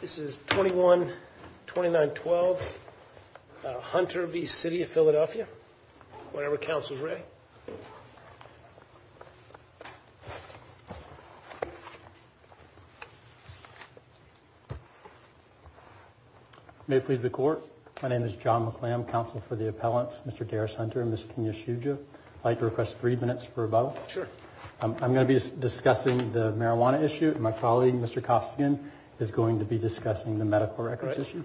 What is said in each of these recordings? This is 21-29-12, Hunter v. City of Philadelphia. Whenever Council is ready. May it please the Court, my name is John McClam, Counsel for the Appellants, Mr. Darris Hunter and Ms. Kenya Shuja. I'd like to request three minutes for a vote. I'm going to be discussing the marijuana issue. My colleague, Mr. Costigan, is going to be discussing the medical records issue.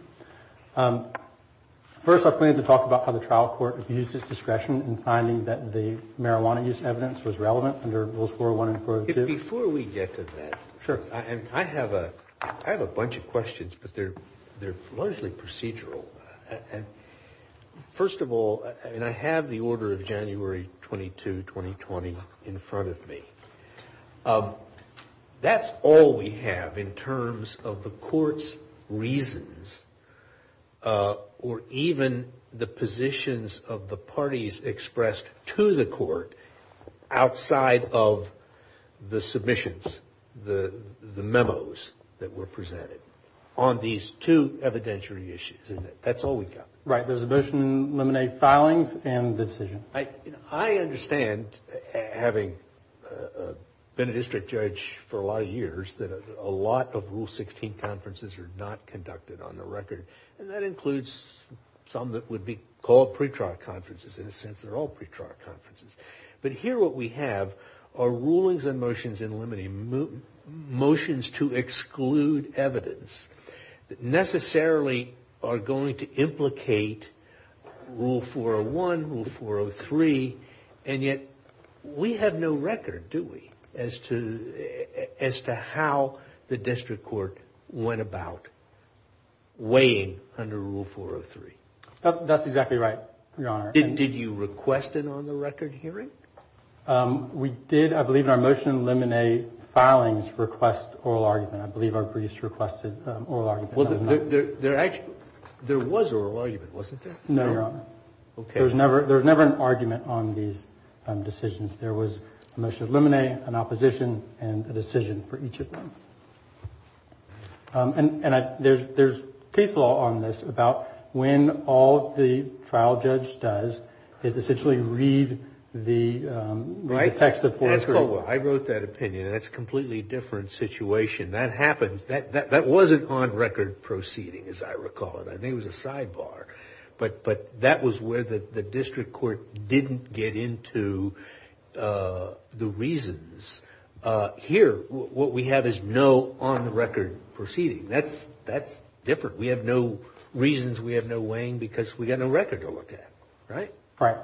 First, I plan to talk about how the trial court used its discretion in finding that the marijuana use evidence was relevant under Rules 401 and 402. Before we get to that, I have a bunch of questions, but they're largely procedural. First of all, and I have the order of January 22, 2020 in front of me, that's all we have in terms of the Court's reasons or even the positions of the parties expressed to the Court outside of the submissions, the memos that were presented on these two evidentiary issues. Does the motion eliminate filings and the decision? I understand, having been a district judge for a lot of years, that a lot of Rule 16 conferences are not conducted on the record. That includes some that would be called pretrial conferences. In a sense, they're all pretrial conferences. Here, what we have are rulings and motions to exclude evidence that necessarily are going to implicate Rule 401, Rule 403, and yet we have no record, do we, as to how the district court went about weighing under Rule 403. That's exactly right, Your Honor. Did you request an on-the-record hearing? We did, I believe in our motion to eliminate filings request oral argument. I believe our briefs requested oral argument. Well, there was oral argument, wasn't there? No, Your Honor. Okay. There was never an argument on these decisions. There was a motion to eliminate, an opposition, and a decision for each of them. And there's case law on this about when all the trial judge does is essentially read the text of Rule 403. I wrote that opinion. That's a completely different situation. That happens. That wasn't on-record proceeding, as I recall it. I think it was a sidebar. But that was where the district court didn't get into the reasons. Here, what we have is no on-record proceeding. That's different. We have no reasons. We have no weighing because we've got no record to look at, right? Right.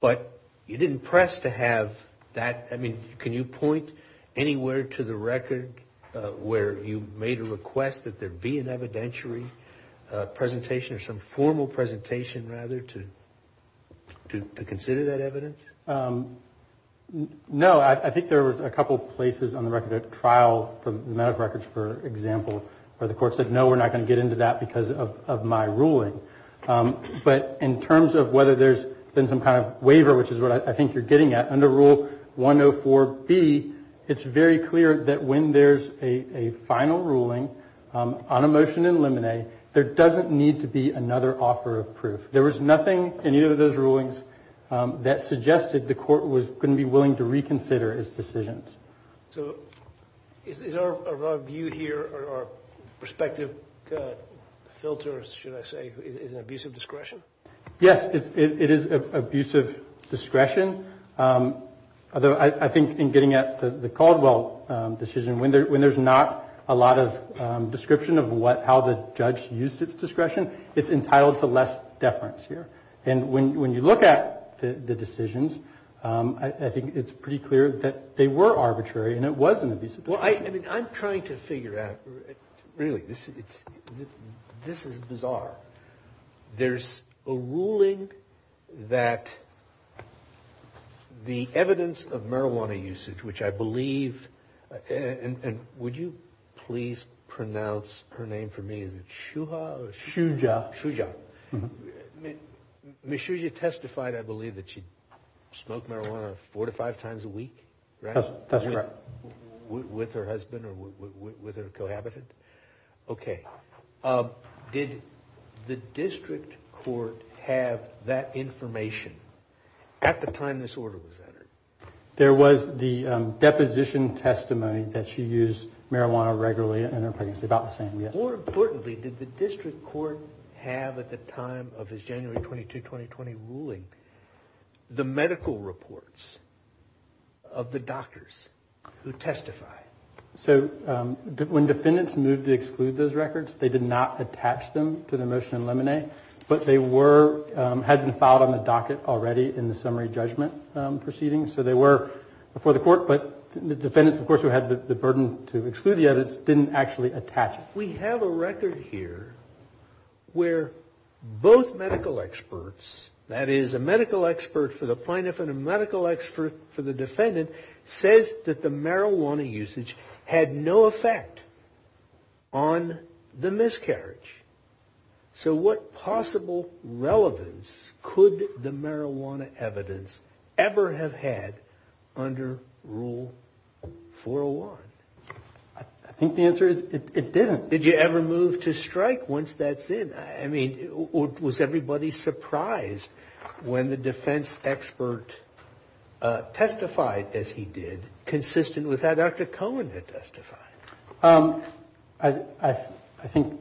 But you didn't press to have that. I mean, can you point anywhere to the record where you made a request that there be an evidentiary presentation, or some formal presentation, rather, to consider that evidence? No. I think there was a couple places on the record, a trial for the amount of records, for example, where the court said, no, we're not going to get into that because of my ruling. But in terms of whether there's been some kind of waiver, which is what I think you're getting at, under Rule 104B, it's very clear that when there's a final ruling on a motion to eliminate, there doesn't need to be another offer of proof. There was nothing in either of those rulings that suggested the court was going to be willing to reconsider its decisions. So is our view here, our perspective filter, should I say, is an abuse of discretion? Yes, it is an abuse of discretion. Although I think in getting at the Caldwell decision, when there's not a lot of description of how the judge used its discretion, it's entitled to less deference here. And when you look at the decisions, I think it's pretty clear that they were arbitrary and it was an abuse of discretion. Well, I mean, I'm trying to figure out, really, this is bizarre. There's a ruling that the evidence of marijuana usage, which I believe, and would you please pronounce her name for me? Shuja. Ms. Shuja testified, I believe, that she smoked marijuana four to five times a week? That's correct. With her husband or with her cohabitant? Okay. Did the district court have that information at the time this order was entered? There was the deposition testimony that she used marijuana regularly in her pregnancy, about the same, yes. More importantly, did the district court have, at the time of his January 22, 2020, ruling, the medical reports of the doctors who testified? So when defendants moved to exclude those records, they did not attach them to the motion in lemonade, but they had been filed on the docket already in the summary judgment proceedings, so they were before the court. But the defendants, of course, who had the burden to exclude the evidence, didn't actually attach it. We have a record here where both medical experts, that is, a medical expert for the plaintiff and a medical expert for the defendant, says that the marijuana usage had no effect on the miscarriage. So what possible relevance could the marijuana evidence ever have had under Rule 401? I think the answer is it didn't. Did you ever move to strike once that's in? I mean, was everybody surprised when the defense expert testified, as he did, consistent with that Dr. Cohen had testified? I think,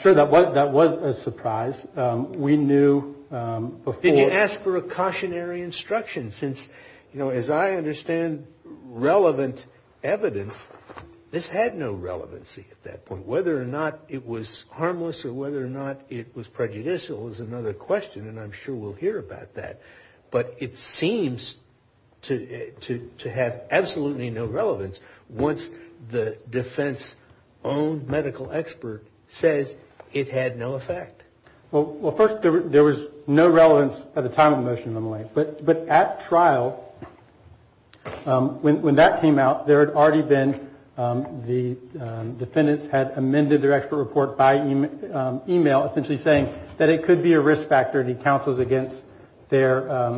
sure, that was a surprise. We knew before. Did you ask for a cautionary instruction since, you know, as I understand relevant evidence, this had no relevancy at that point. Whether or not it was harmless or whether or not it was prejudicial is another question, and I'm sure we'll hear about that. But it seems to have absolutely no relevance once the defense-owned medical expert says it had no effect. Well, first, there was no relevance at the time of the motion of the MLA. But at trial, when that came out, there had already been the defendants had amended their expert report by email, essentially saying that it could be a risk factor, and he counsels against their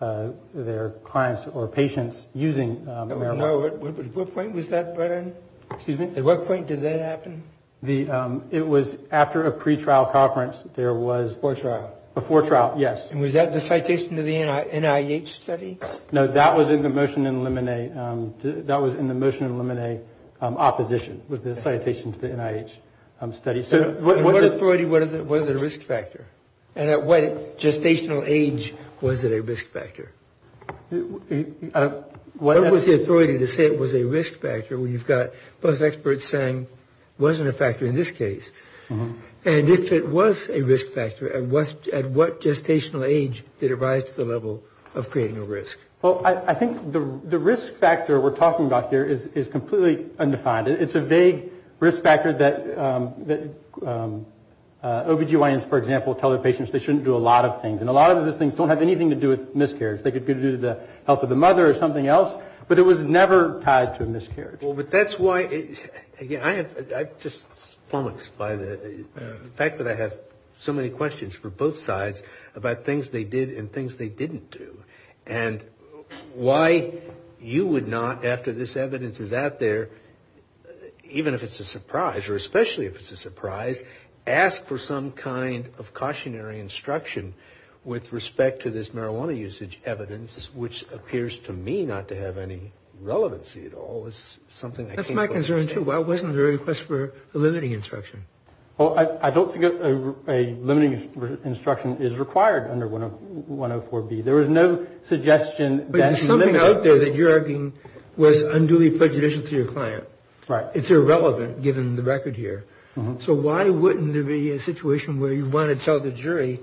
clients or patients using marijuana. At what point was that, Brian? Excuse me? At what point did that happen? It was after a pretrial conference. Before trial. Before trial, yes. And was that the citation to the NIH study? No, that was in the motion to eliminate opposition, was the citation to the NIH study. At what authority was it a risk factor? And at what gestational age was it a risk factor? What was the authority to say it was a risk factor when you've got both experts saying it wasn't a factor in this case? And if it was a risk factor, at what gestational age did it rise to the level of creating a risk? Well, I think the risk factor we're talking about here is completely undefined. It's a vague risk factor that OBGYNs, for example, tell their patients they shouldn't do a lot of things. And a lot of those things don't have anything to do with miscarriage. They could be to do with the health of the mother or something else, but it was never tied to a miscarriage. Well, but that's why, again, I'm just flummoxed by the fact that I have so many questions for both sides about things they did and things they didn't do. And why you would not, after this evidence is out there, even if it's a surprise, or especially if it's a surprise, ask for some kind of cautionary instruction with respect to this marijuana usage evidence, which appears to me not to have any relevancy at all. It's something I can't quite understand. That's my concern, too. Why wasn't there a request for a limiting instruction? Well, I don't think a limiting instruction is required under 104B. There is no suggestion that's limited. But there's something out there that you're arguing was unduly prejudicial to your client. Right. It's irrelevant, given the record here. So why wouldn't there be a situation where you want to tell the jury,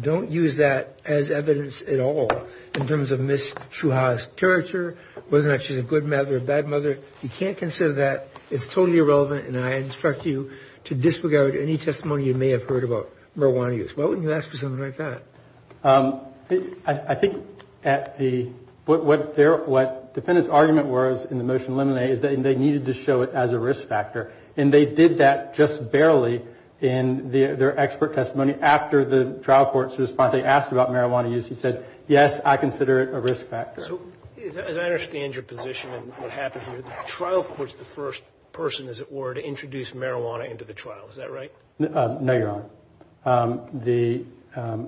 don't use that as evidence at all, in terms of Ms. Shuha's character, whether or not she's a good mother or a bad mother. You can't consider that. It's totally irrelevant, and I instruct you to disregard any testimony you may have heard about marijuana use. Why wouldn't you ask for something like that? I think at the – what the defendant's argument was in the motion to eliminate is that they needed to show it as a risk factor. And they did that just barely in their expert testimony. After the trial court's response, they asked about marijuana use. He said, yes, I consider it a risk factor. So as I understand your position and what happened here, the trial court's the first person, as it were, to introduce marijuana into the trial. Is that right? No, Your Honor.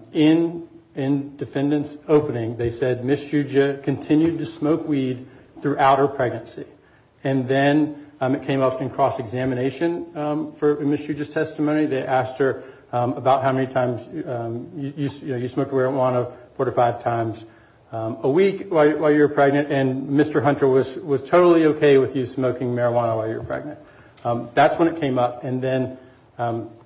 In the defendant's opening, they said Ms. Shuha continued to smoke weed throughout her pregnancy. And then it came up in cross-examination for Ms. Shuha's testimony. They asked her about how many times – you know, you smoke marijuana four to five times a week while you were pregnant. And Mr. Hunter was totally okay with you smoking marijuana while you were pregnant. That's when it came up. And then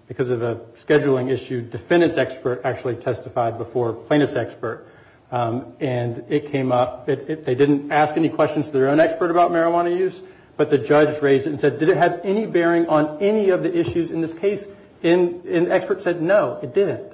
because of a scheduling issue, the defendant's expert actually testified before plaintiff's expert. And it came up. They didn't ask any questions to their own expert about marijuana use. But the judge raised it and said, did it have any bearing on any of the issues in this case? And the expert said, no, it didn't.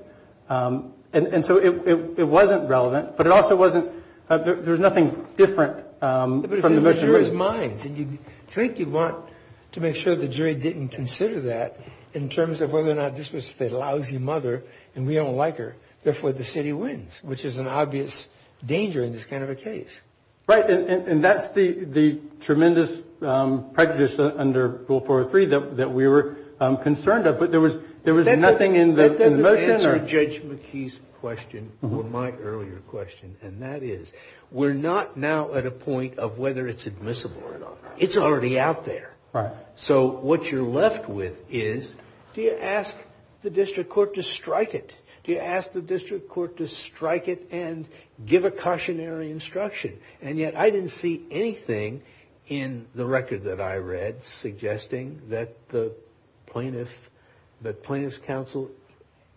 And so it wasn't relevant. But it also wasn't – there was nothing different from the motion raised. But it's in the jury's minds. And you think you want to make sure the jury didn't consider that in terms of whether or not this was a lousy mother and we don't like her. Therefore, the city wins, which is an obvious danger in this kind of a case. Right. And that's the tremendous prejudice under Rule 403 that we were concerned of. But there was nothing in the motion or – That doesn't answer Judge McKee's question or my earlier question. And that is, we're not now at a point of whether it's admissible or not. It's already out there. Right. So what you're left with is, do you ask the district court to strike it? Do you ask the district court to strike it and give a cautionary instruction? And yet I didn't see anything in the record that I read suggesting that the plaintiff – that plaintiff's counsel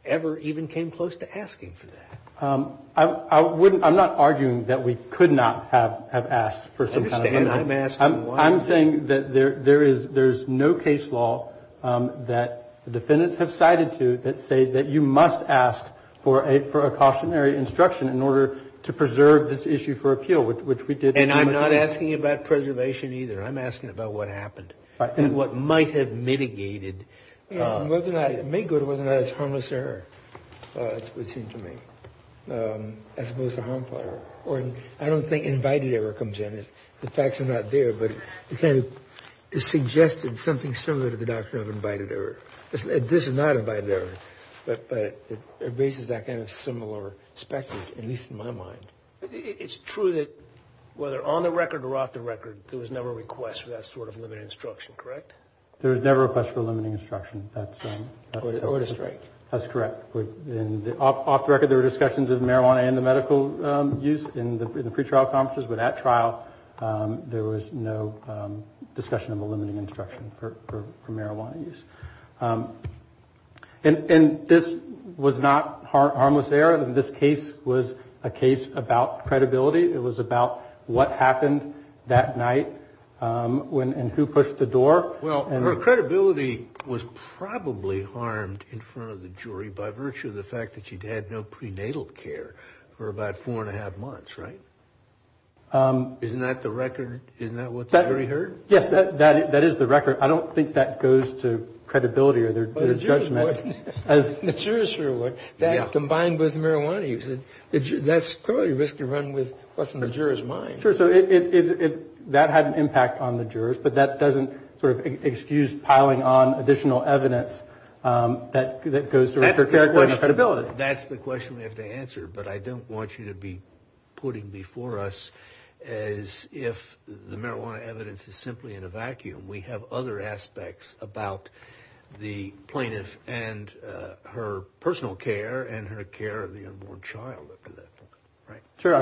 ever even came close to asking for that. I wouldn't – I'm not arguing that we could not have asked for some kind of amendment. I understand. I'm asking why. I'm saying that there is – there's no case law that the defendants have cited to say that you must ask for a – for a cautionary instruction in order to preserve this issue for appeal, which we did. And I'm not asking about preservation either. I'm asking about what happened and what might have mitigated – Whether or not – it may go to whether or not it's harmless error. That's what it seemed to me, as opposed to harmful error. Or I don't think invited error comes in. The facts are not there. But it kind of suggested something similar to the doctrine of invited error. This is not invited error, but it raises that kind of similar speculation, at least in my mind. It's true that whether on the record or off the record, there was never a request for that sort of limiting instruction, correct? There was never a request for limiting instruction. That's – Or to strike. That's correct. Off the record, there were discussions of marijuana and the medical use in the pretrial conferences. But at trial, there was no discussion of a limiting instruction for marijuana use. And this was not harmless error. This case was a case about credibility. It was about what happened that night and who pushed the door. Well, her credibility was probably harmed in front of the jury by virtue of the fact that she'd had no prenatal care for about four and a half months, right? Isn't that the record? Isn't that what the jury heard? Yes, that is the record. I don't think that goes to credibility or their judgment. Well, the jurors would. The jurors sure would. Yeah. That combined with marijuana use, that's clearly a risky run with what's in the juror's mind. Sure. So that had an impact on the jurors. But that doesn't sort of excuse piling on additional evidence that goes to record credibility. That's the question we have to answer. But I don't want you to be putting before us as if the marijuana evidence is simply in a vacuum. We have other aspects about the plaintiff and her personal care and her care of the unborn child up to that point. Sure.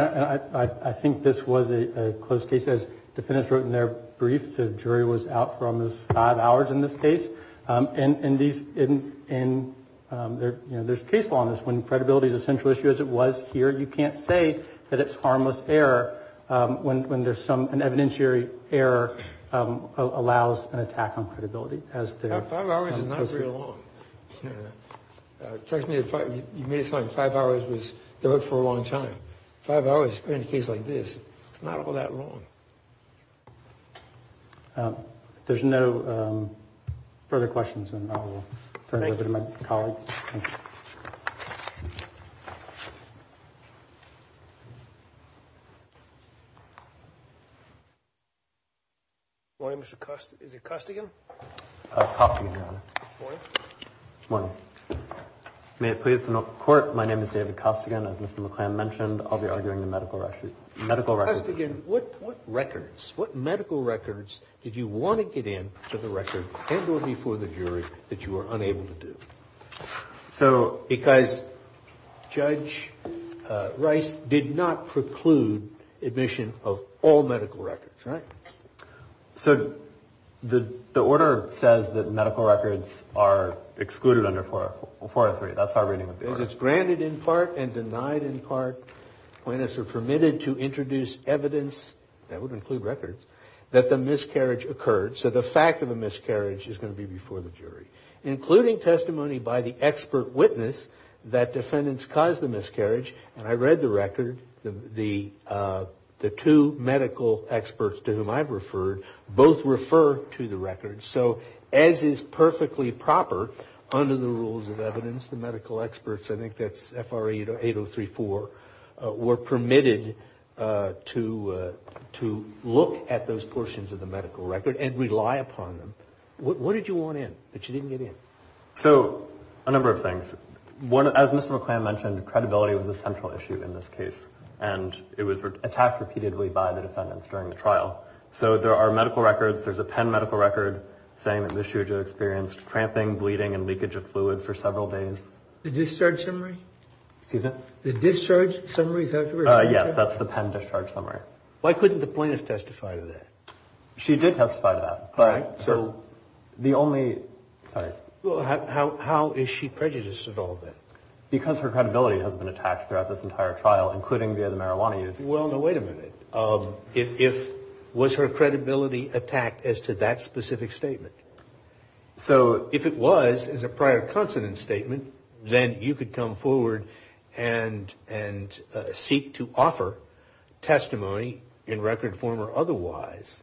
I think this was a close case. As defendants wrote in their brief, the jury was out for almost five hours in this case. And there's case law on this. When credibility is a central issue, as it was here, you can't say that it's harmless error when there's an evidentiary error allows an attack on credibility. Five hours is not very long. Technically, you made it sound like five hours was the hook for a long time. Five hours in a case like this, it's not all that long. Thank you. There's no further questions. And I'll turn it over to my colleagues. Morning, Mr. Costigan. Is it Costigan? Costigan, Your Honor. Morning. Morning. May it please the court. My name is David Costigan. As Mr. McClan mentioned, I'll be arguing the medical record. Mr. Costigan, what records, what medical records did you want to get in for the record and go before the jury that you were unable to do? So because Judge Rice did not preclude admission of all medical records, right? So the order says that medical records are excluded under 403. Because it's granted in part and denied in part when it's permitted to introduce evidence, that would include records, that the miscarriage occurred. So the fact of a miscarriage is going to be before the jury, including testimony by the expert witness that defendants caused the miscarriage. And I read the record. The two medical experts to whom I've referred both refer to the record. So as is perfectly proper under the rules of evidence, the medical experts, I think that's FRA 8034, were permitted to look at those portions of the medical record and rely upon them. What did you want in that you didn't get in? So a number of things. One, as Mr. McClan mentioned, credibility was a central issue in this case. And it was attacked repeatedly by the defendants during the trial. So there are medical records. There's a pen medical record saying that Ms. Shuja experienced cramping, bleeding, and leakage of fluid for several days. The discharge summary? Excuse me? The discharge summary? Yes, that's the pen discharge summary. Why couldn't the plaintiff testify to that? She did testify to that. All right. So the only – sorry. Well, how is she prejudiced at all then? Because her credibility has been attacked throughout this entire trial, including via the marijuana use. Well, now, wait a minute. If – was her credibility attacked as to that specific statement? So if it was as a prior consonant statement, then you could come forward and seek to offer testimony in record form or otherwise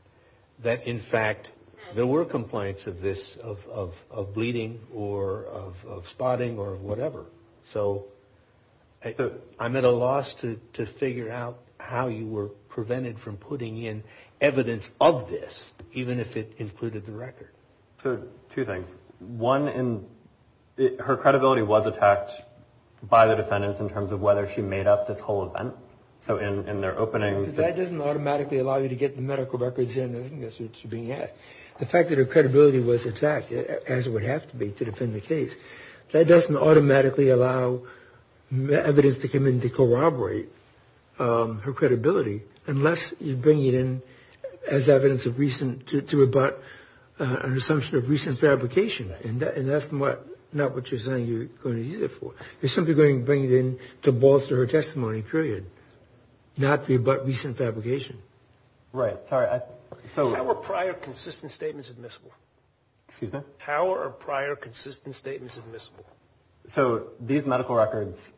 that, in fact, there were complaints of this, of bleeding or of spotting or whatever. So I'm at a loss to figure out how you were prevented from putting in evidence of this, even if it included the record. So two things. One, her credibility was attacked by the defendants in terms of whether she made up this whole event. So in their opening – That doesn't automatically allow you to get the medical records in. The fact that her credibility was attacked, as it would have to be to defend the case, that doesn't automatically allow evidence to come in to corroborate her credibility unless you bring it in as evidence of recent – to rebut an assumption of recent fabrication. And that's not what you're saying you're going to use it for. You're simply going to bring it in to bolster her testimony, period, not to rebut recent fabrication. Right. Sorry. How are prior consistent statements admissible? Excuse me? How are prior consistent statements admissible? So these medical records,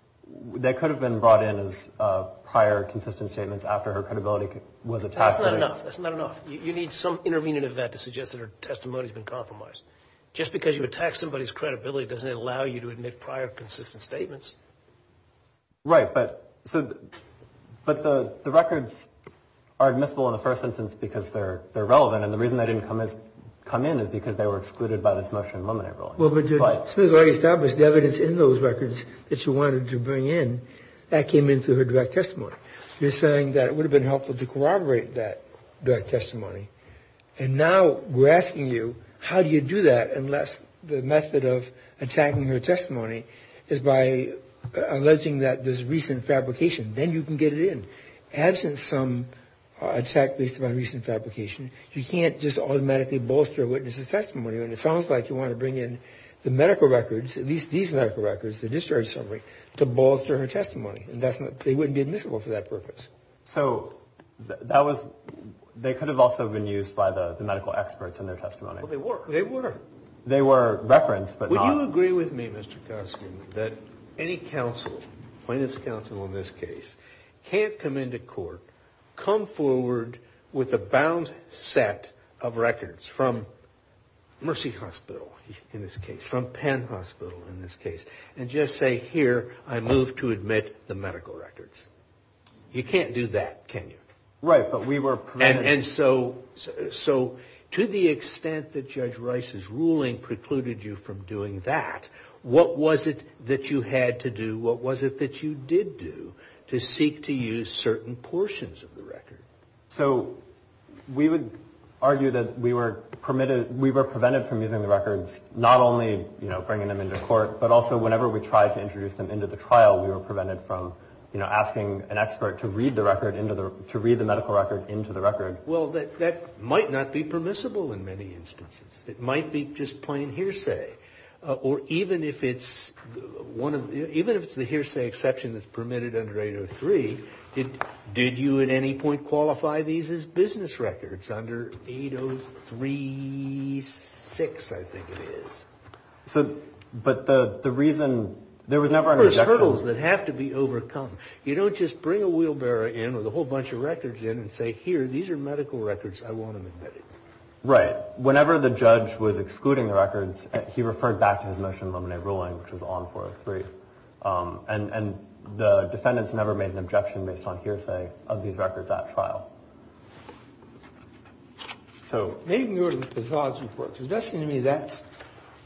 they could have been brought in as prior consistent statements after her credibility was attacked. That's not enough. That's not enough. You need some intervening event to suggest that her testimony has been compromised. Just because you attack somebody's credibility doesn't allow you to admit prior consistent statements. Right. But the records are admissible in the first instance because they're relevant, and the reason they didn't come in is because they were excluded by this motion and limited ruling. Well, but you've already established the evidence in those records that you wanted to bring in. That came in through her direct testimony. You're saying that it would have been helpful to corroborate that direct testimony. And now we're asking you how do you do that unless the method of attacking her testimony is by alleging that there's recent fabrication. Then you can get it in. Absent some attack based upon recent fabrication, you can't just automatically bolster a witness's testimony. And it sounds like you want to bring in the medical records, at least these medical records, the discharge summary, to bolster her testimony. They wouldn't be admissible for that purpose. So that was they could have also been used by the medical experts in their testimony. Well, they were. They were. They were referenced, but not. Do you agree with me, Mr. Costin, that any counsel, plaintiff's counsel in this case, can't come into court, come forward with a bound set of records from Mercy Hospital in this case, from Penn Hospital in this case, and just say, here, I move to admit the medical records. You can't do that, can you? Right, but we were. And so to the extent that Judge Rice's ruling precluded you from doing that, what was it that you had to do, what was it that you did do, to seek to use certain portions of the record? So we would argue that we were prevented from using the records, not only bringing them into court, but also whenever we tried to introduce them into the trial, we were prevented from asking an expert to read the medical record into the record. Well, that might not be permissible in many instances. It might be just plain hearsay. Or even if it's the hearsay exception that's permitted under 803, did you at any point qualify these as business records under 803-6, I think it is. So, but the reason, there was never an objection. There's hurdles that have to be overcome. You don't just bring a wheelbarrow in with a whole bunch of records in and say, here, these are medical records, I want them admitted. Right. Whenever the judge was excluding the records, he referred back to his motion of laminate ruling, which was on 403. And the defendants never made an objection based on hearsay of these records at trial. So. Maybe we can go to the Bazaar's report. Because it does seem to me that's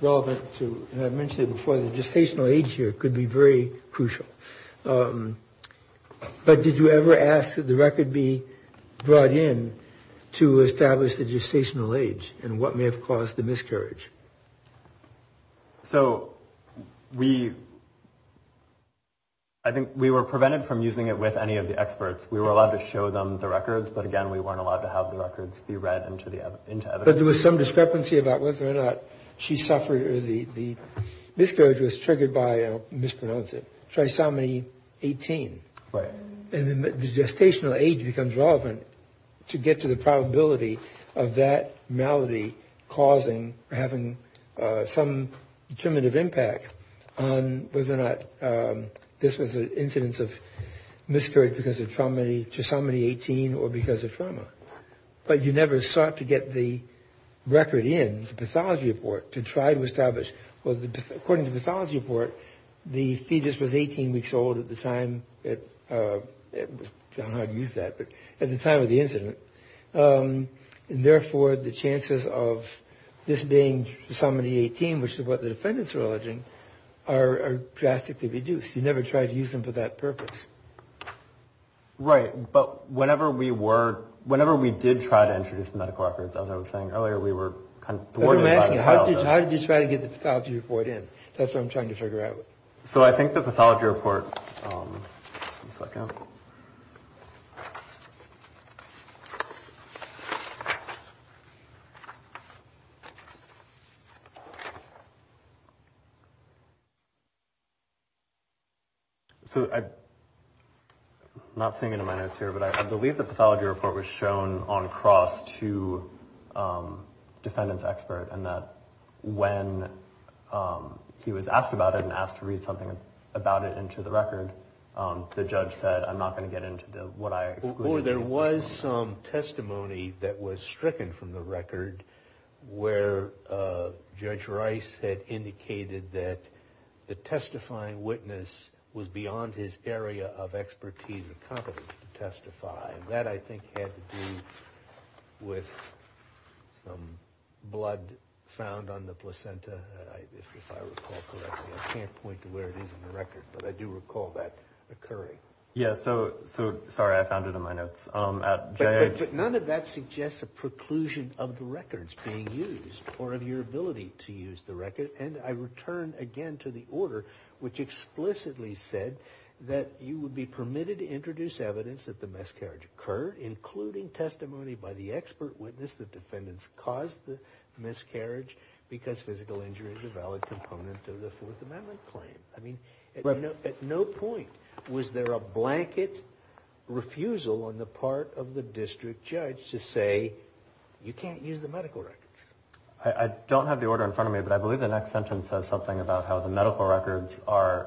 relevant to, and I've mentioned it before, the gestational age here could be very crucial. But did you ever ask that the record be brought in to establish the gestational age and what may have caused the miscarriage? So, we, I think we were prevented from using it with any of the experts. We were allowed to show them the records, but, again, we weren't allowed to have the records be read into evidence. But there was some discrepancy about whether or not she suffered, or the miscarriage was triggered by, mispronounce it, trisomy 18. Right. And the gestational age becomes relevant to get to the probability of that malady causing, having some determinative impact on whether or not this was an incidence of miscarriage because of trisomy 18 or because of trauma. But you never sought to get the record in, the pathology report, to try to establish. Well, according to the pathology report, the fetus was 18 weeks old at the time, I don't know how to use that, but at the time of the incident. And, therefore, the chances of this being trisomy 18, which is what the defendants are alleging, are drastically reduced. You never tried to use them for that purpose. Right. But whenever we were, whenever we did try to introduce the medical records, as I was saying earlier, we were kind of thwarted by the pathology report. I'm asking you, how did you try to get the pathology report in? That's what I'm trying to figure out. So I think the pathology report. One second. So I'm not seeing it in my notes here, but I believe the pathology report was shown on cross to defendant's expert and that when he was asked about it and asked to read something about it into the record, the judge said, I'm not going to get into what I excluded. Or there was some testimony that was stricken from the record where Judge Rice had indicated that the testifying witness was beyond his area of expertise and competence to testify. And that, I think, had to do with some blood found on the placenta. If I recall correctly, I can't point to where it is in the record, but I do recall that occurring. Yeah, so, sorry, I found it in my notes. But none of that suggests a preclusion of the records being used or of your ability to use the record. And I return again to the order which explicitly said that you would be permitted to introduce evidence that the miscarriage occurred, including testimony by the expert witness that defendants caused the miscarriage because physical injury is a valid component of the Fourth Amendment claim. I mean, at no point was there a blanket refusal on the part of the district judge to say you can't use the medical records. I don't have the order in front of me, but I believe the next sentence says something about how the medical records are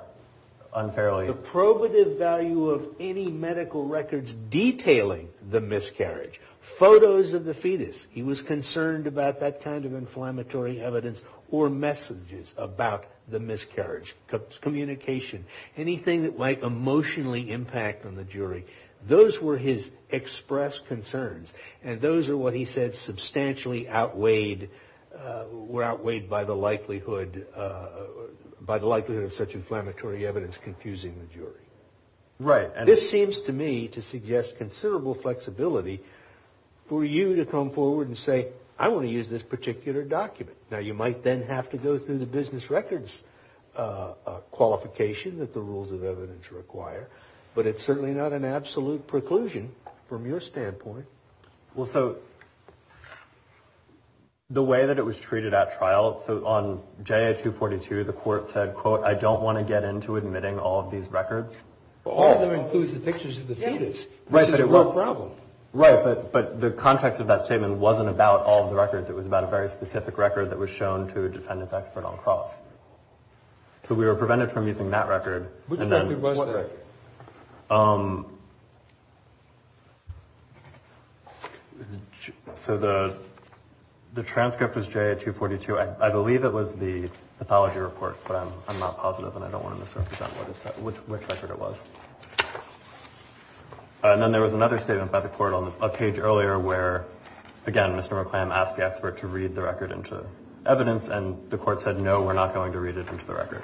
unfairly. The probative value of any medical records detailing the miscarriage, photos of the fetus, he was concerned about that kind of inflammatory evidence, or messages about the miscarriage, communication, anything that might emotionally impact on the jury, those were his expressed concerns. And those are what he said substantially outweighed, were outweighed by the likelihood of such inflammatory evidence confusing the jury. Right. This seems to me to suggest considerable flexibility for you to come forward and say, I want to use this particular document. Now, you might then have to go through the business records qualification that the rules of evidence require, but it's certainly not an absolute preclusion from your standpoint. Well, so the way that it was treated at trial, so on JA 242 the court said, quote, I don't want to get into admitting all of these records. All of them include the pictures of the fetus, which is a real problem. Right, but the context of that statement wasn't about all of the records. It was about a very specific record that was shown to a defendant's expert on cross. So we were prevented from using that record. Which record was that? So the transcript was JA 242. I believe it was the pathology report, but I'm not positive, and I don't want to misrepresent which record it was. And then there was another statement by the court on a page earlier where, again, Mr. McClam asked the expert to read the record into evidence, and the court said, no, we're not going to read it into the record.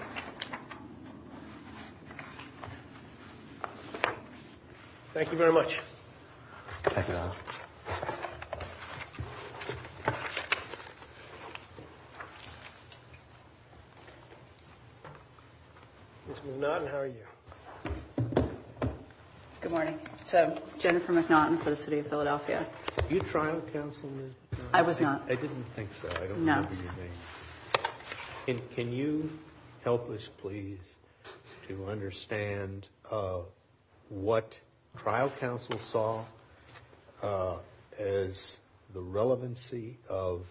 Thank you very much. Thank you, Your Honor. Ms. McNaughton, how are you? Good morning. So Jennifer McNaughton for the city of Philadelphia. Were you trial counsel, Ms. McNaughton? I was not. I didn't think so. I don't know what you mean. No. Can you help us, please, to understand what trial counsel saw as the relevancy of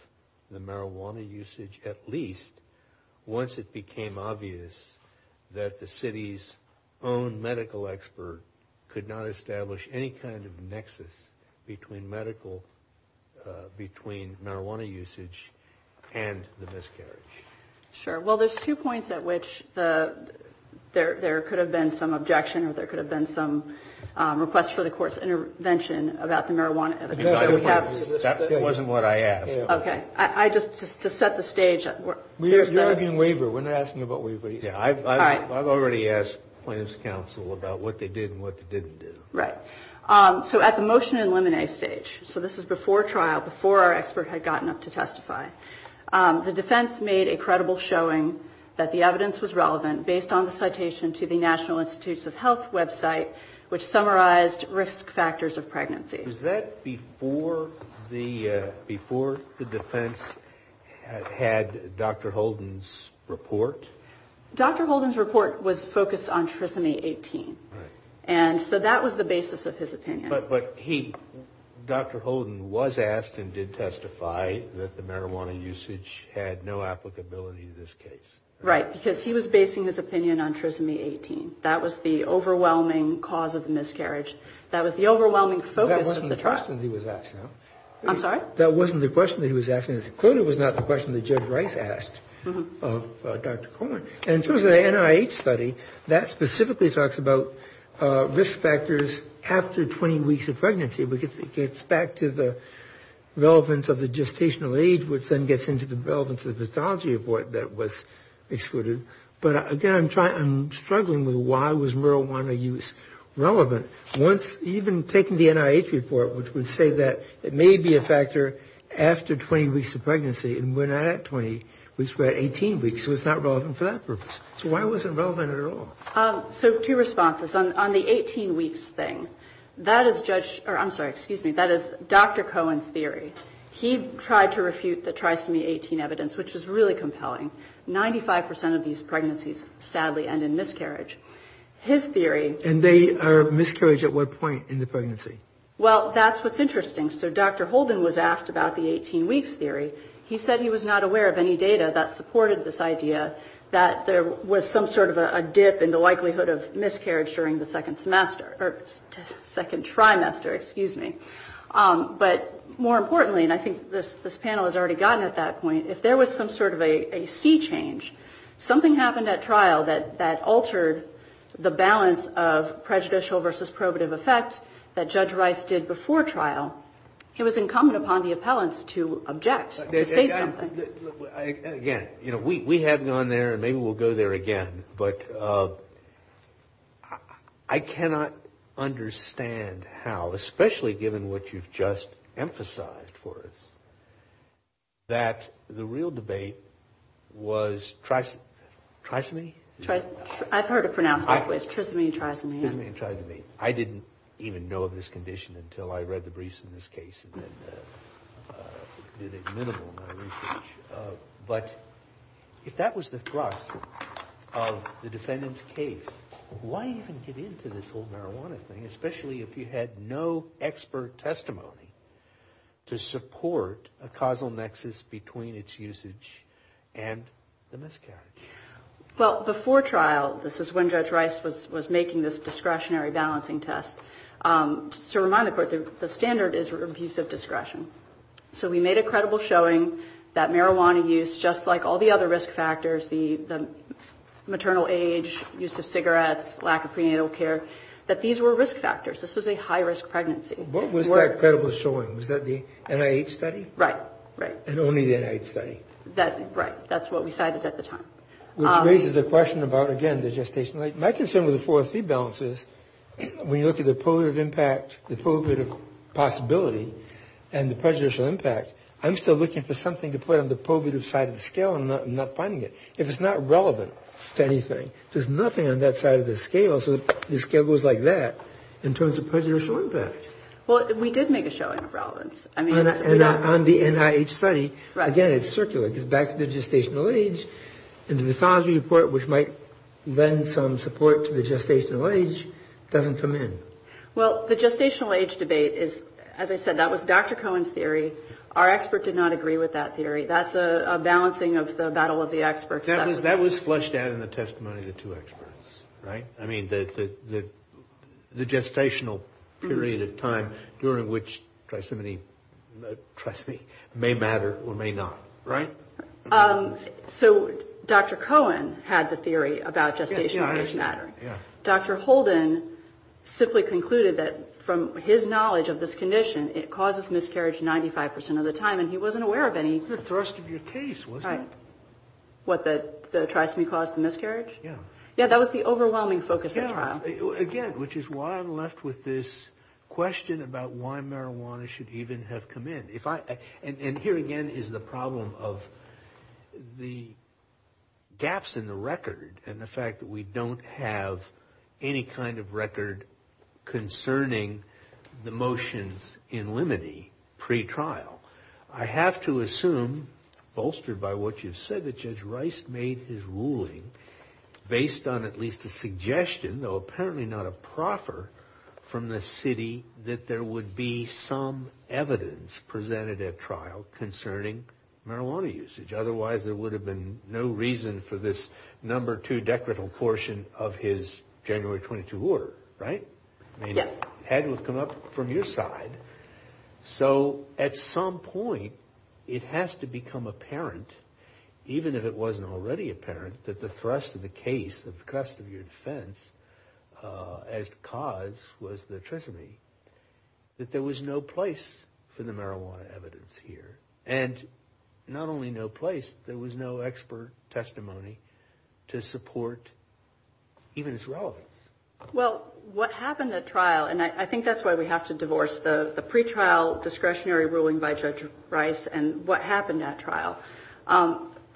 the marijuana usage, at least once it became obvious that the city's own medical expert could not establish any kind of nexus between marijuana usage and the miscarriage? Sure. Well, there's two points at which there could have been some objection or there could have been some request for the court's intervention about the marijuana evidence. That wasn't what I asked. Okay. Just to set the stage. You're arguing waiver. We're not asking about waiver. I've already asked plaintiff's counsel about what they did and what they didn't do. Right. So at the motion and limine stage, so this is before trial, before our expert had gotten up to testify, the defense made a credible showing that the evidence was relevant, based on the citation to the National Institutes of Health website, which summarized risk factors of pregnancy. Was that before the defense had Dr. Holden's report? Dr. Holden's report was focused on trisomy 18. And so that was the basis of his opinion. But he, Dr. Holden, was asked and did testify that the marijuana usage had no applicability in this case. Right. Because he was basing his opinion on trisomy 18. That was the overwhelming cause of the miscarriage. That was the overwhelming focus of the trial. That wasn't the question he was asking. I'm sorry? That wasn't the question that he was asking. It clearly was not the question that Judge Rice asked of Dr. Cohen. And in terms of the NIH study, that specifically talks about risk factors after 20 weeks of pregnancy, because it gets back to the relevance of the gestational age, which then gets into the relevance of the pathology report that was excluded. But, again, I'm struggling with why was marijuana use relevant. Once, even taking the NIH report, which would say that it may be a factor after 20 weeks of pregnancy, and we're not at 20 weeks, we're at 18 weeks. So it's not relevant for that purpose. So why wasn't it relevant at all? So two responses. On the 18 weeks thing, that is Dr. Cohen's theory. He tried to refute the trisomy 18 evidence, which was really compelling. Ninety-five percent of these pregnancies, sadly, end in miscarriage. And they are miscarriage at what point in the pregnancy? Well, that's what's interesting. So Dr. Holden was asked about the 18 weeks theory. He said he was not aware of any data that supported this idea, that there was some sort of a dip in the likelihood of miscarriage during the second semester, or second trimester, excuse me. But more importantly, and I think this panel has already gotten at that point, if there was some sort of a sea change, something happened at trial that altered the balance of prejudicial versus probative effect that Judge Rice did before trial, he was incumbent upon the appellants to object, to say something. Again, you know, we have gone there and maybe we'll go there again, but I cannot understand how, especially given what you've just emphasized for us, that the real debate was trisomy? I've heard it pronounced both ways, trisomy and trisomy. Trisomy and trisomy. I didn't even know of this condition until I read the briefs in this case and then did a minimal amount of research. But if that was the thrust of the defendant's case, why even get into this whole marijuana thing, especially if you had no expert testimony to support a causal nexus between its usage and the miscarriage? Well, before trial, this is when Judge Rice was making this discretionary balancing test. To remind the Court, the standard is abusive discretion. So we made a credible showing that marijuana use, just like all the other risk factors, the maternal age, use of cigarettes, lack of prenatal care, that these were risk factors. This was a high-risk pregnancy. What was that credible showing? Was that the NIH study? Right, right. And only the NIH study? Right. That's what we cited at the time. Which raises a question about, again, the gestational age. My concern with the four or three balances, when you look at the probative impact, the probative possibility, and the prejudicial impact, I'm still looking for something to put on the probative side of the scale and I'm not finding it. If it's not relevant to anything, there's nothing on that side of the scale, so the scale goes like that in terms of prejudicial impact. Well, we did make a showing of relevance. On the NIH study, again, it's circular. I think it's back to the gestational age. And the mythology report, which might lend some support to the gestational age, doesn't come in. Well, the gestational age debate is, as I said, that was Dr. Cohen's theory. Our expert did not agree with that theory. That's a balancing of the battle of the experts. That was flushed out in the testimony of the two experts. Right? I mean, the gestational period of time during which trisomy may matter or may not. Right? So Dr. Cohen had the theory about gestational age matter. Dr. Holden simply concluded that from his knowledge of this condition, it causes miscarriage 95% of the time, and he wasn't aware of any. It was the thrust of your case, wasn't it? Right. What, the trisomy caused the miscarriage? Yeah. Yeah, that was the overwhelming focus of the trial. Again, which is why I'm left with this question about why marijuana should even have come in. Here again is the problem of the gaps in the record and the fact that we don't have any kind of record concerning the motions in limine pre-trial. I have to assume, bolstered by what you've said, that Judge Rice made his ruling based on at least a suggestion, though apparently not a proffer, from the city that there would be some evidence presented at trial concerning marijuana usage. Otherwise, there would have been no reason for this No. 2 Decretal portion of his January 22 order. Right? Yes. Hadn't it come up from your side. So at some point, it has to become apparent, even if it wasn't already apparent, that the thrust of the case, the thrust of your defense, as cause was the treasury, that there was no place for the marijuana evidence here. And not only no place, there was no expert testimony to support even its relevance. Well, what happened at trial, and I think that's why we have to divorce the pre-trial discretionary ruling by Judge Rice and what happened at trial.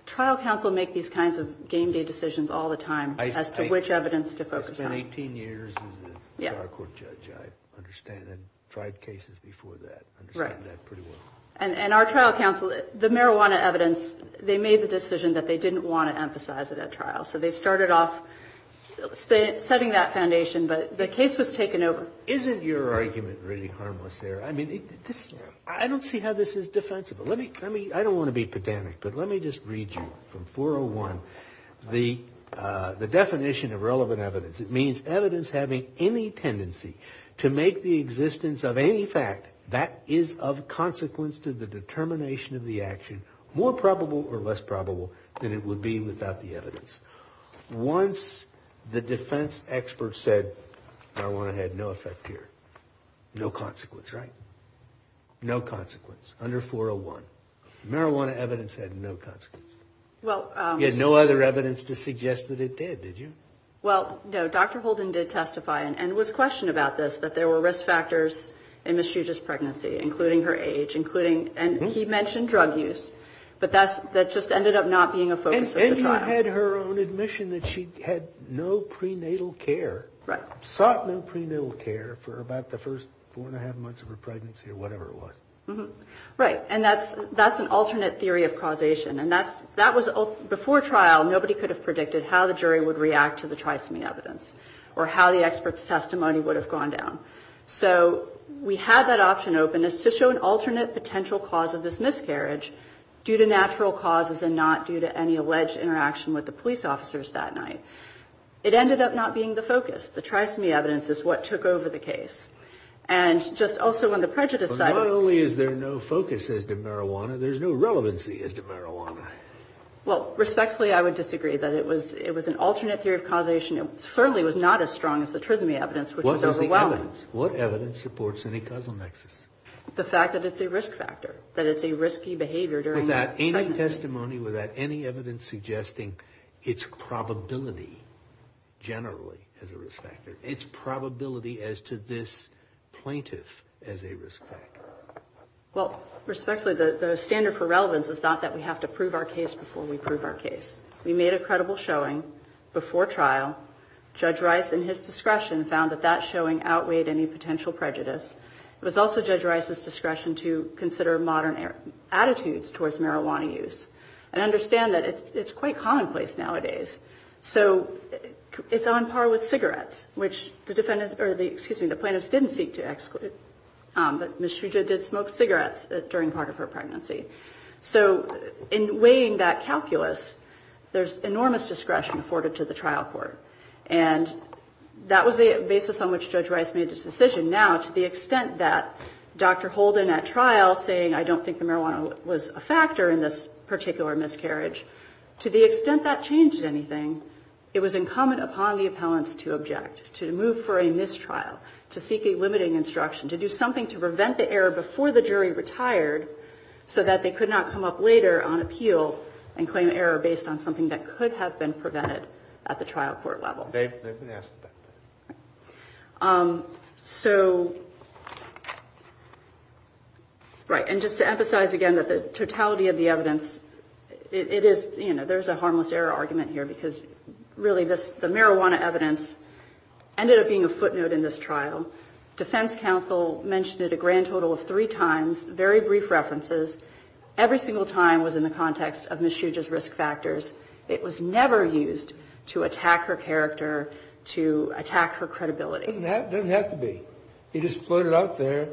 Trial counsel make these kinds of game-day decisions all the time as to which evidence to focus on. I spent 18 years as a trial court judge. I understand. I tried cases before that. I understand that pretty well. And our trial counsel, the marijuana evidence, they made the decision that they didn't want to emphasize it at trial. So they started off setting that foundation, but the case was taken over. Isn't your argument really harmless there? I mean, I don't see how this is defensible. I don't want to be pedantic, but let me just read you from 401. The definition of relevant evidence, it means evidence having any tendency to make the existence of any fact that is of consequence to the determination of the action more probable or less probable than it would be without the evidence. Once the defense expert said marijuana had no effect here, no consequence, right? No consequence under 401. Marijuana evidence had no consequence. You had no other evidence to suggest that it did, did you? Well, no. Dr. Holden did testify, and it was questioned about this, that there were risk factors in Ms. Juga's pregnancy, including her age, and he mentioned drug use, but that just ended up not being a focus of the trial. And you had her own admission that she had no prenatal care, sought no prenatal care for about the first four and a half months of her pregnancy or whatever it was. Right. And that's an alternate theory of causation, and that was before trial nobody could have predicted how the jury would react to the trisomy evidence or how the expert's testimony would have gone down. So we had that option open as to show an alternate potential cause of this miscarriage due to natural causes and not due to any alleged interaction with the police officers that night. It ended up not being the focus. The trisomy evidence is what took over the case. And just also on the prejudice side. But not only is there no focus as to marijuana, there's no relevancy as to marijuana. Well, respectfully, I would disagree that it was an alternate theory of causation. It certainly was not as strong as the trisomy evidence, which was overwhelming. What was the evidence? What evidence supports any causal nexus? The fact that it's a risk factor, that it's a risky behavior during pregnancy. Without any testimony, without any evidence suggesting its probability, generally, as a risk factor, its probability as to this plaintiff as a risk factor. Well, respectfully, the standard for relevance is not that we have to prove our case before we prove our case. We made a credible showing before trial. Judge Rice, in his discretion, found that that showing outweighed any potential prejudice. It was also Judge Rice's discretion to consider modern attitudes towards marijuana use and understand that it's quite commonplace nowadays. So it's on par with cigarettes, which the plaintiffs didn't seek to exclude. But Ms. Trujillo did smoke cigarettes during part of her pregnancy. So in weighing that calculus, there's enormous discretion afforded to the trial court. And that was the basis on which Judge Rice made his decision. Now, to the extent that Dr. Holden at trial saying, I don't think the marijuana was a factor in this particular miscarriage, to the extent that changed anything, it was incumbent upon the appellants to object, to move for a mistrial, to seek a limiting instruction, to do something to prevent the error before the jury retired so that they could not come up later on appeal and claim error based on something that could have been prevented at the trial court level. They've been asked about that. So, right. And just to emphasize again that the totality of the evidence, it is, you know, there's a harmless error argument here because really this, the marijuana evidence ended up being a footnote in this trial. Defense counsel mentioned it a grand total of three times, very brief references. Every single time was in the context of Ms. Shuge's risk factors. It was never used to attack her character, to attack her credibility. It doesn't have to be. You just put it out there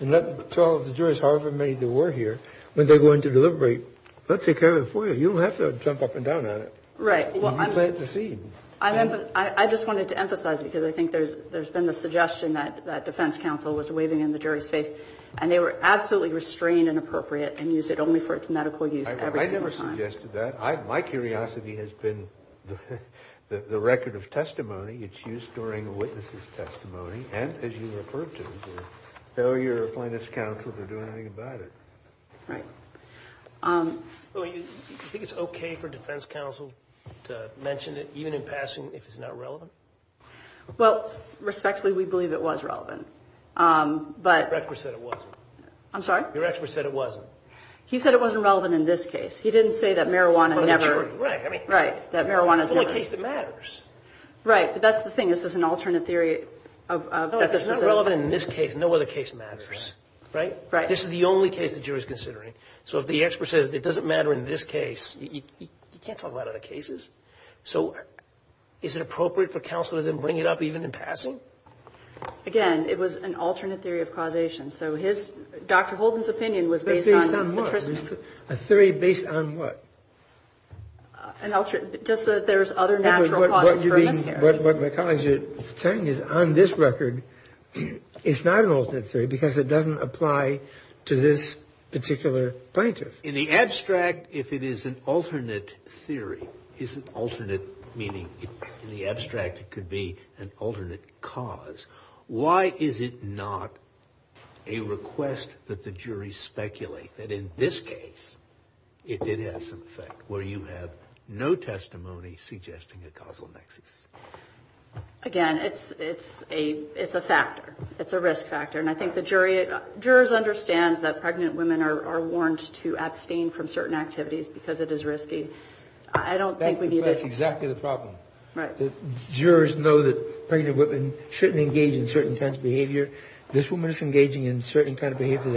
and let the trial, the jurors, however many there were here, when they go in to deliberate, let's take care of it for you. You don't have to jump up and down on it. Right. You can plant the seed. I just wanted to emphasize because I think there's been the suggestion that defense counsel was waving in the jury's face and they were absolutely restrained and appropriate and used it only for its medical use every single time. I never suggested that. My curiosity has been the record of testimony. It's used during a witness's testimony and, as you referred to, the failure of plaintiff's counsel to do anything about it. Right. Do you think it's okay for defense counsel to mention it, even in passing, if it's not relevant? Well, respectfully, we believe it was relevant. Your expert said it wasn't. I'm sorry? Your expert said it wasn't. He said it wasn't relevant in this case. He didn't say that marijuana never. Right. Right. That marijuana's never. It's the only case that matters. Right. But that's the thing. This is an alternate theory. No, it's not relevant in this case. No other case matters. Right? Right. This is the only case the jury's considering. So if the expert says it doesn't matter in this case, you can't talk about other cases. So is it appropriate for counsel to then bring it up, even in passing? Again, it was an alternate theory of causation. So his Dr. Holden's opinion was based on the Tristan. Based on what? A theory based on what? Just that there's other natural causes for a miscarriage. What my colleagues are saying is on this record, it's not an alternate theory because it doesn't apply to this particular plaintiff. In the abstract, if it is an alternate theory, isn't alternate meaning in the abstract it could be an alternate cause. Why is it not a request that the jury speculate that in this case it did have some effect, where you have no testimony suggesting a causal nexus? Again, it's a factor. It's a risk factor. And I think the jurors understand that pregnant women are warned to abstain from certain activities because it is risky. I don't think we need it. That's exactly the problem. Jurors know that pregnant women shouldn't engage in certain kinds of behavior. This woman is engaging in certain kind of behavior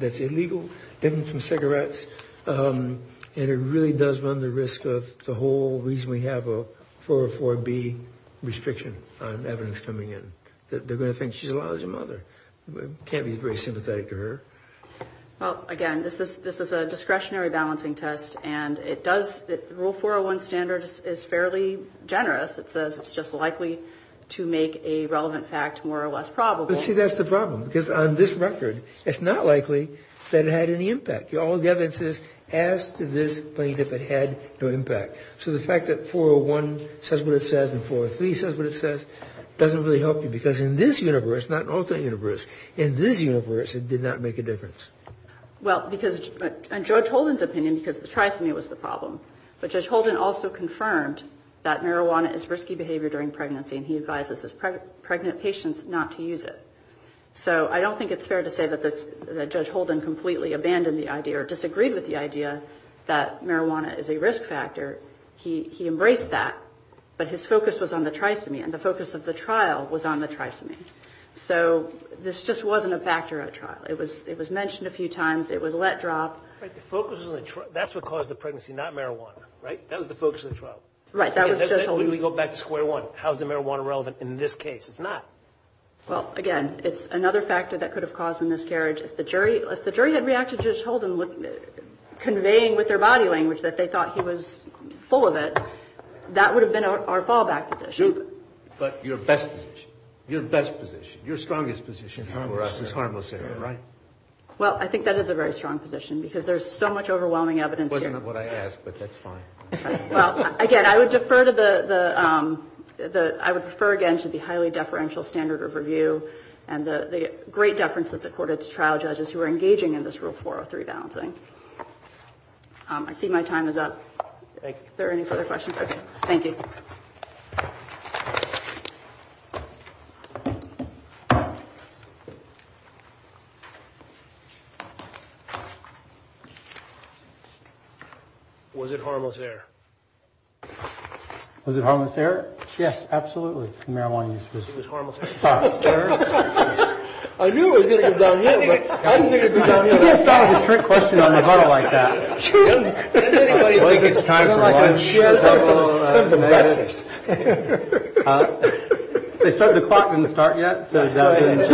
that's illegal. Giving some cigarettes. And it really does run the risk of the whole reason we have a 404B restriction on evidence coming in. They're going to think she's a lousy mother. Can't be very sympathetic to her. Well, again, this is a discretionary balancing test. And it does rule 401 standard is fairly generous. It says it's just likely to make a relevant fact more or less probable. But see, that's the problem. Because on this record, it's not likely that it had any impact. All the evidence is as to this plaintiff had no impact. So the fact that 401 says what it says and 403 says what it says doesn't really help you. Because in this universe, not an alternate universe, in this universe, it did not make a difference. Well, because in Judge Holden's opinion, because the trisomy was the problem, but Judge Holden also confirmed that marijuana is risky behavior during pregnancy. And he advises his pregnant patients not to use it. So I don't think it's fair to say that Judge Holden completely abandoned the idea or disagreed with the idea that marijuana is a risk factor. He embraced that. But his focus was on the trisomy, and the focus of the trial was on the trisomy. So this just wasn't a factor at trial. It was mentioned a few times. It was let drop. Right. The focus was on the trial. That's what caused the pregnancy, not marijuana, right? That was the focus of the trial. Right. That was Judge Holden's. Then we go back to square one. How is the marijuana relevant in this case? It's not. Well, again, it's another factor that could have caused a miscarriage. If the jury had reacted to Judge Holden conveying with their body language that they thought he was full of it, that would have been our fallback position. But your best position, your best position, your strongest position for us is harmless heroin, right? Well, I think that is a very strong position because there's so much overwhelming evidence here. It wasn't what I asked, but that's fine. Well, again, I would defer again to the highly deferential standard of review and the great deference that's accorded to trial judges who are engaging in this Rule 403 balancing. I see my time is up. Thank you. Is there any further questions? Okay. Thank you. Was it harmless there? Was it harmless there? Yes, absolutely. Marijuana was harmless there. I knew it was going to come down here, but I didn't think it would come down here. You can't start with a strict question on a bottle like that. I don't think it's time for lunch. They said the clock didn't start yet. We'll forget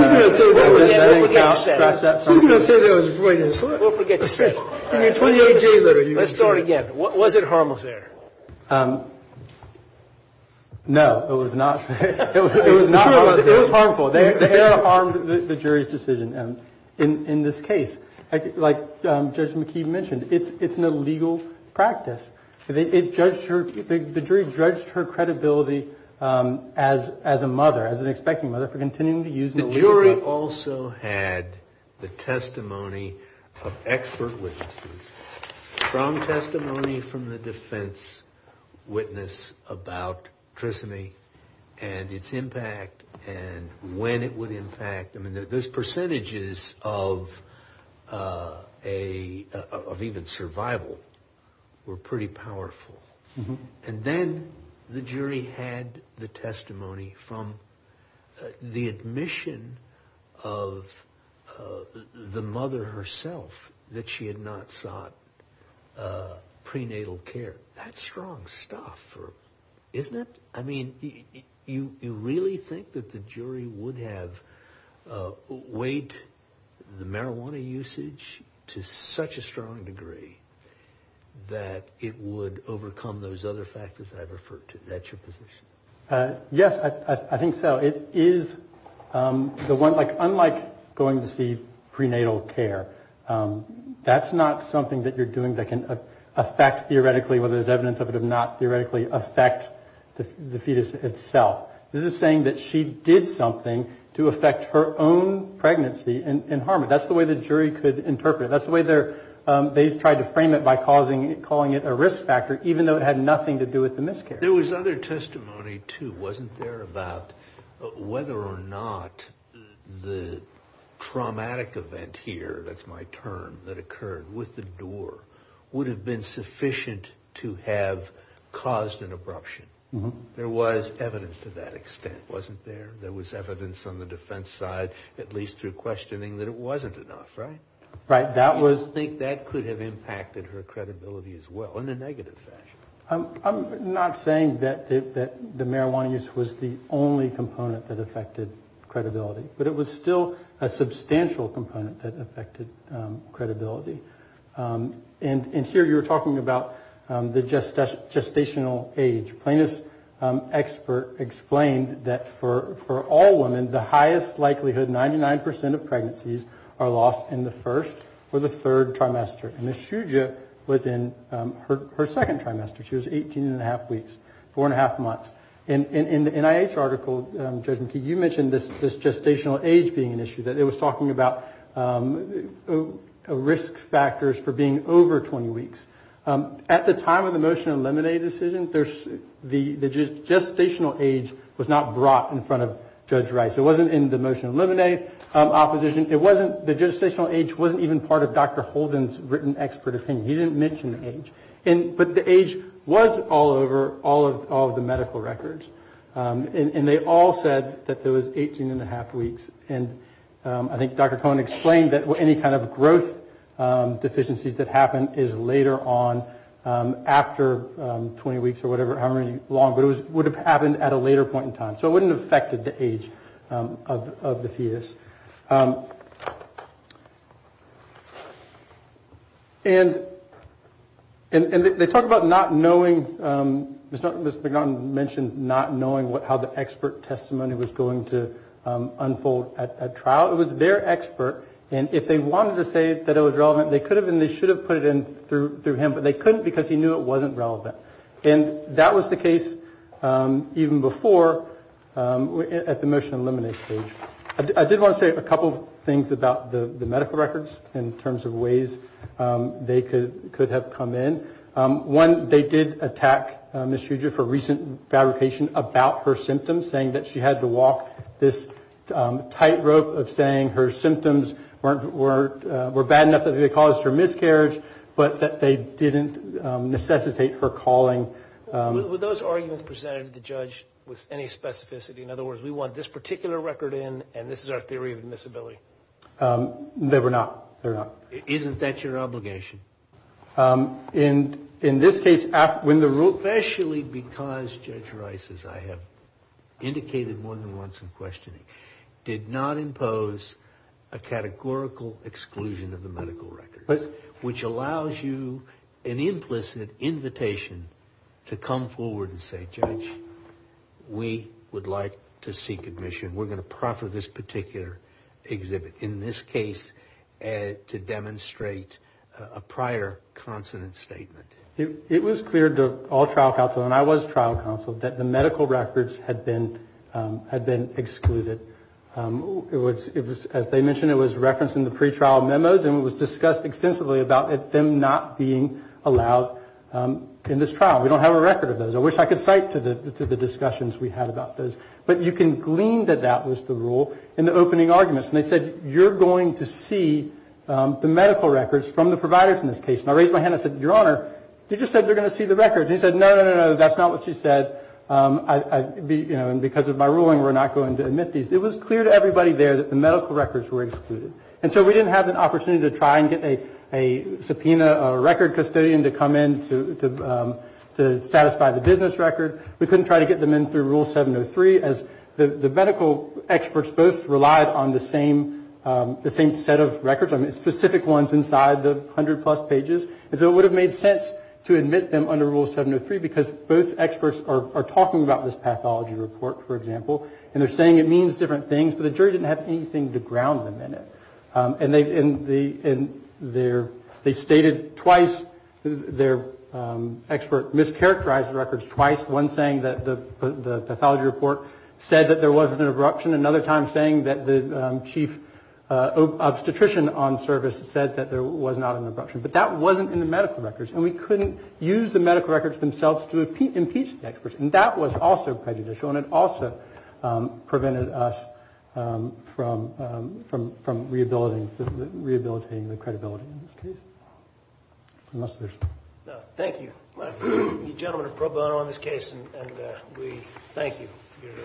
you said it. Let's start again. Was it harmless there? No, it was not. It was harmful. It harmed the jury's decision in this case. Like Judge McKee mentioned, it's an illegal practice. The jury judged her credibility as a mother, as an expecting mother, for continuing to use an illegal drug. The jury also had the testimony of expert witnesses from testimony from the defense witness about trisomy and its impact and when it would impact. I mean, those percentages of even survival were pretty powerful. And then the jury had the testimony from the admission of the mother herself that she had not sought prenatal care. That's strong stuff, isn't it? I mean, you really think that the jury would have weighed the marijuana usage to such a strong degree that it would overcome those other factors that I referred to? That's your position? Yes, I think so. It is unlike going to see prenatal care. That's not something that you're doing that can affect theoretically, whether there's evidence of it or not, theoretically affect the fetus itself. This is saying that she did something to affect her own pregnancy and harm it. That's the way the jury could interpret it. That's the way they tried to frame it by calling it a risk factor, even though it had nothing to do with the miscarriage. There was other testimony, too, wasn't there, about whether or not the traumatic event here, that's my term, that occurred with the door would have been sufficient to have caused an abruption. There was evidence to that extent, wasn't there? There was evidence on the defense side, at least through questioning, that it wasn't enough, right? Right. I think that could have impacted her credibility as well, in a negative fashion. I'm not saying that the marijuana use was the only component that affected credibility, but it was still a substantial component that affected credibility. And here you were talking about the gestational age. Plaintiff's expert explained that for all women, the highest likelihood, 99 percent of pregnancies, are lost in the first or the third trimester. And Ms. Shuja was in her second trimester. She was 18 and a half weeks, four and a half months. In the NIH article, Judge McKee, you mentioned this gestational age being an issue, that it was talking about risk factors for being over 20 weeks. At the time of the motion to eliminate a decision, the gestational age was not brought in front of Judge Rice. It wasn't in the motion to eliminate opposition. The gestational age wasn't even part of Dr. Holden's written expert opinion. He didn't mention the age. But the age was all over all of the medical records. And they all said that there was 18 and a half weeks. And I think Dr. Cohen explained that any kind of growth deficiencies that happen is later on, after 20 weeks or whatever, however long, but it would have happened at a later point in time. So it wouldn't have affected the age of the fetus. And they talk about not knowing, Ms. McNaughton mentioned not knowing how the expert testimony was going to unfold at trial. It was their expert, and if they wanted to say that it was relevant, they could have and they should have put it in through him, but they couldn't because he knew it wasn't relevant. And that was the case even before at the motion to eliminate stage. I did want to say a couple of things about the medical records in terms of ways they could have come in. One, they did attack Ms. Huger for recent fabrication about her symptoms, saying that she had to walk this tightrope of saying her symptoms were bad enough that they caused her miscarriage, but that they didn't necessitate her calling. Were those arguments presented to the judge with any specificity? In other words, we want this particular record in, and this is our theory of admissibility. They were not. Isn't that your obligation? In this case, when the rule- Especially because Judge Rice, as I have indicated more than once in questioning, did not impose a categorical exclusion of the medical records, which allows you an implicit invitation to come forward and say, Judge, we would like to seek admission. We're going to proffer this particular exhibit. In this case, to demonstrate a prior consonant statement. It was clear to all trial counsel, and I was trial counsel, that the medical records had been excluded. It was, as they mentioned, it was referenced in the pretrial memos, and it was discussed extensively about them not being allowed in this trial. We don't have a record of those. I wish I could cite to the discussions we had about those. But you can glean that that was the rule in the opening arguments, when they said, you're going to see the medical records from the providers in this case. And I raised my hand and said, Your Honor, they just said they're going to see the records. And he said, no, no, no, no, that's not what she said. And because of my ruling, we're not going to admit these. It was clear to everybody there that the medical records were excluded. And so we didn't have an opportunity to try and get a subpoena record custodian to come in to satisfy the business record. We couldn't try to get them in through Rule 703, as the medical experts both relied on the same set of records, specific ones inside the 100-plus pages. And so it would have made sense to admit them under Rule 703, because both experts are talking about this pathology report, for example, and they're saying it means different things, but the jury didn't have anything to ground them in it. And they stated twice, their expert mischaracterized the records twice, one saying that the pathology report said that there wasn't an abruption, another time saying that the chief obstetrician on service said that there was not an abruption. But that wasn't in the medical records, and we couldn't use the medical records themselves to impeach the experts. And that was also prejudicial, and it also prevented us from rehabilitating the credibility in this case. Thank you, gentlemen, and pro bono on this case, and we thank you. Your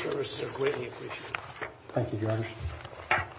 services are greatly appreciated. Thank you, Your Honor.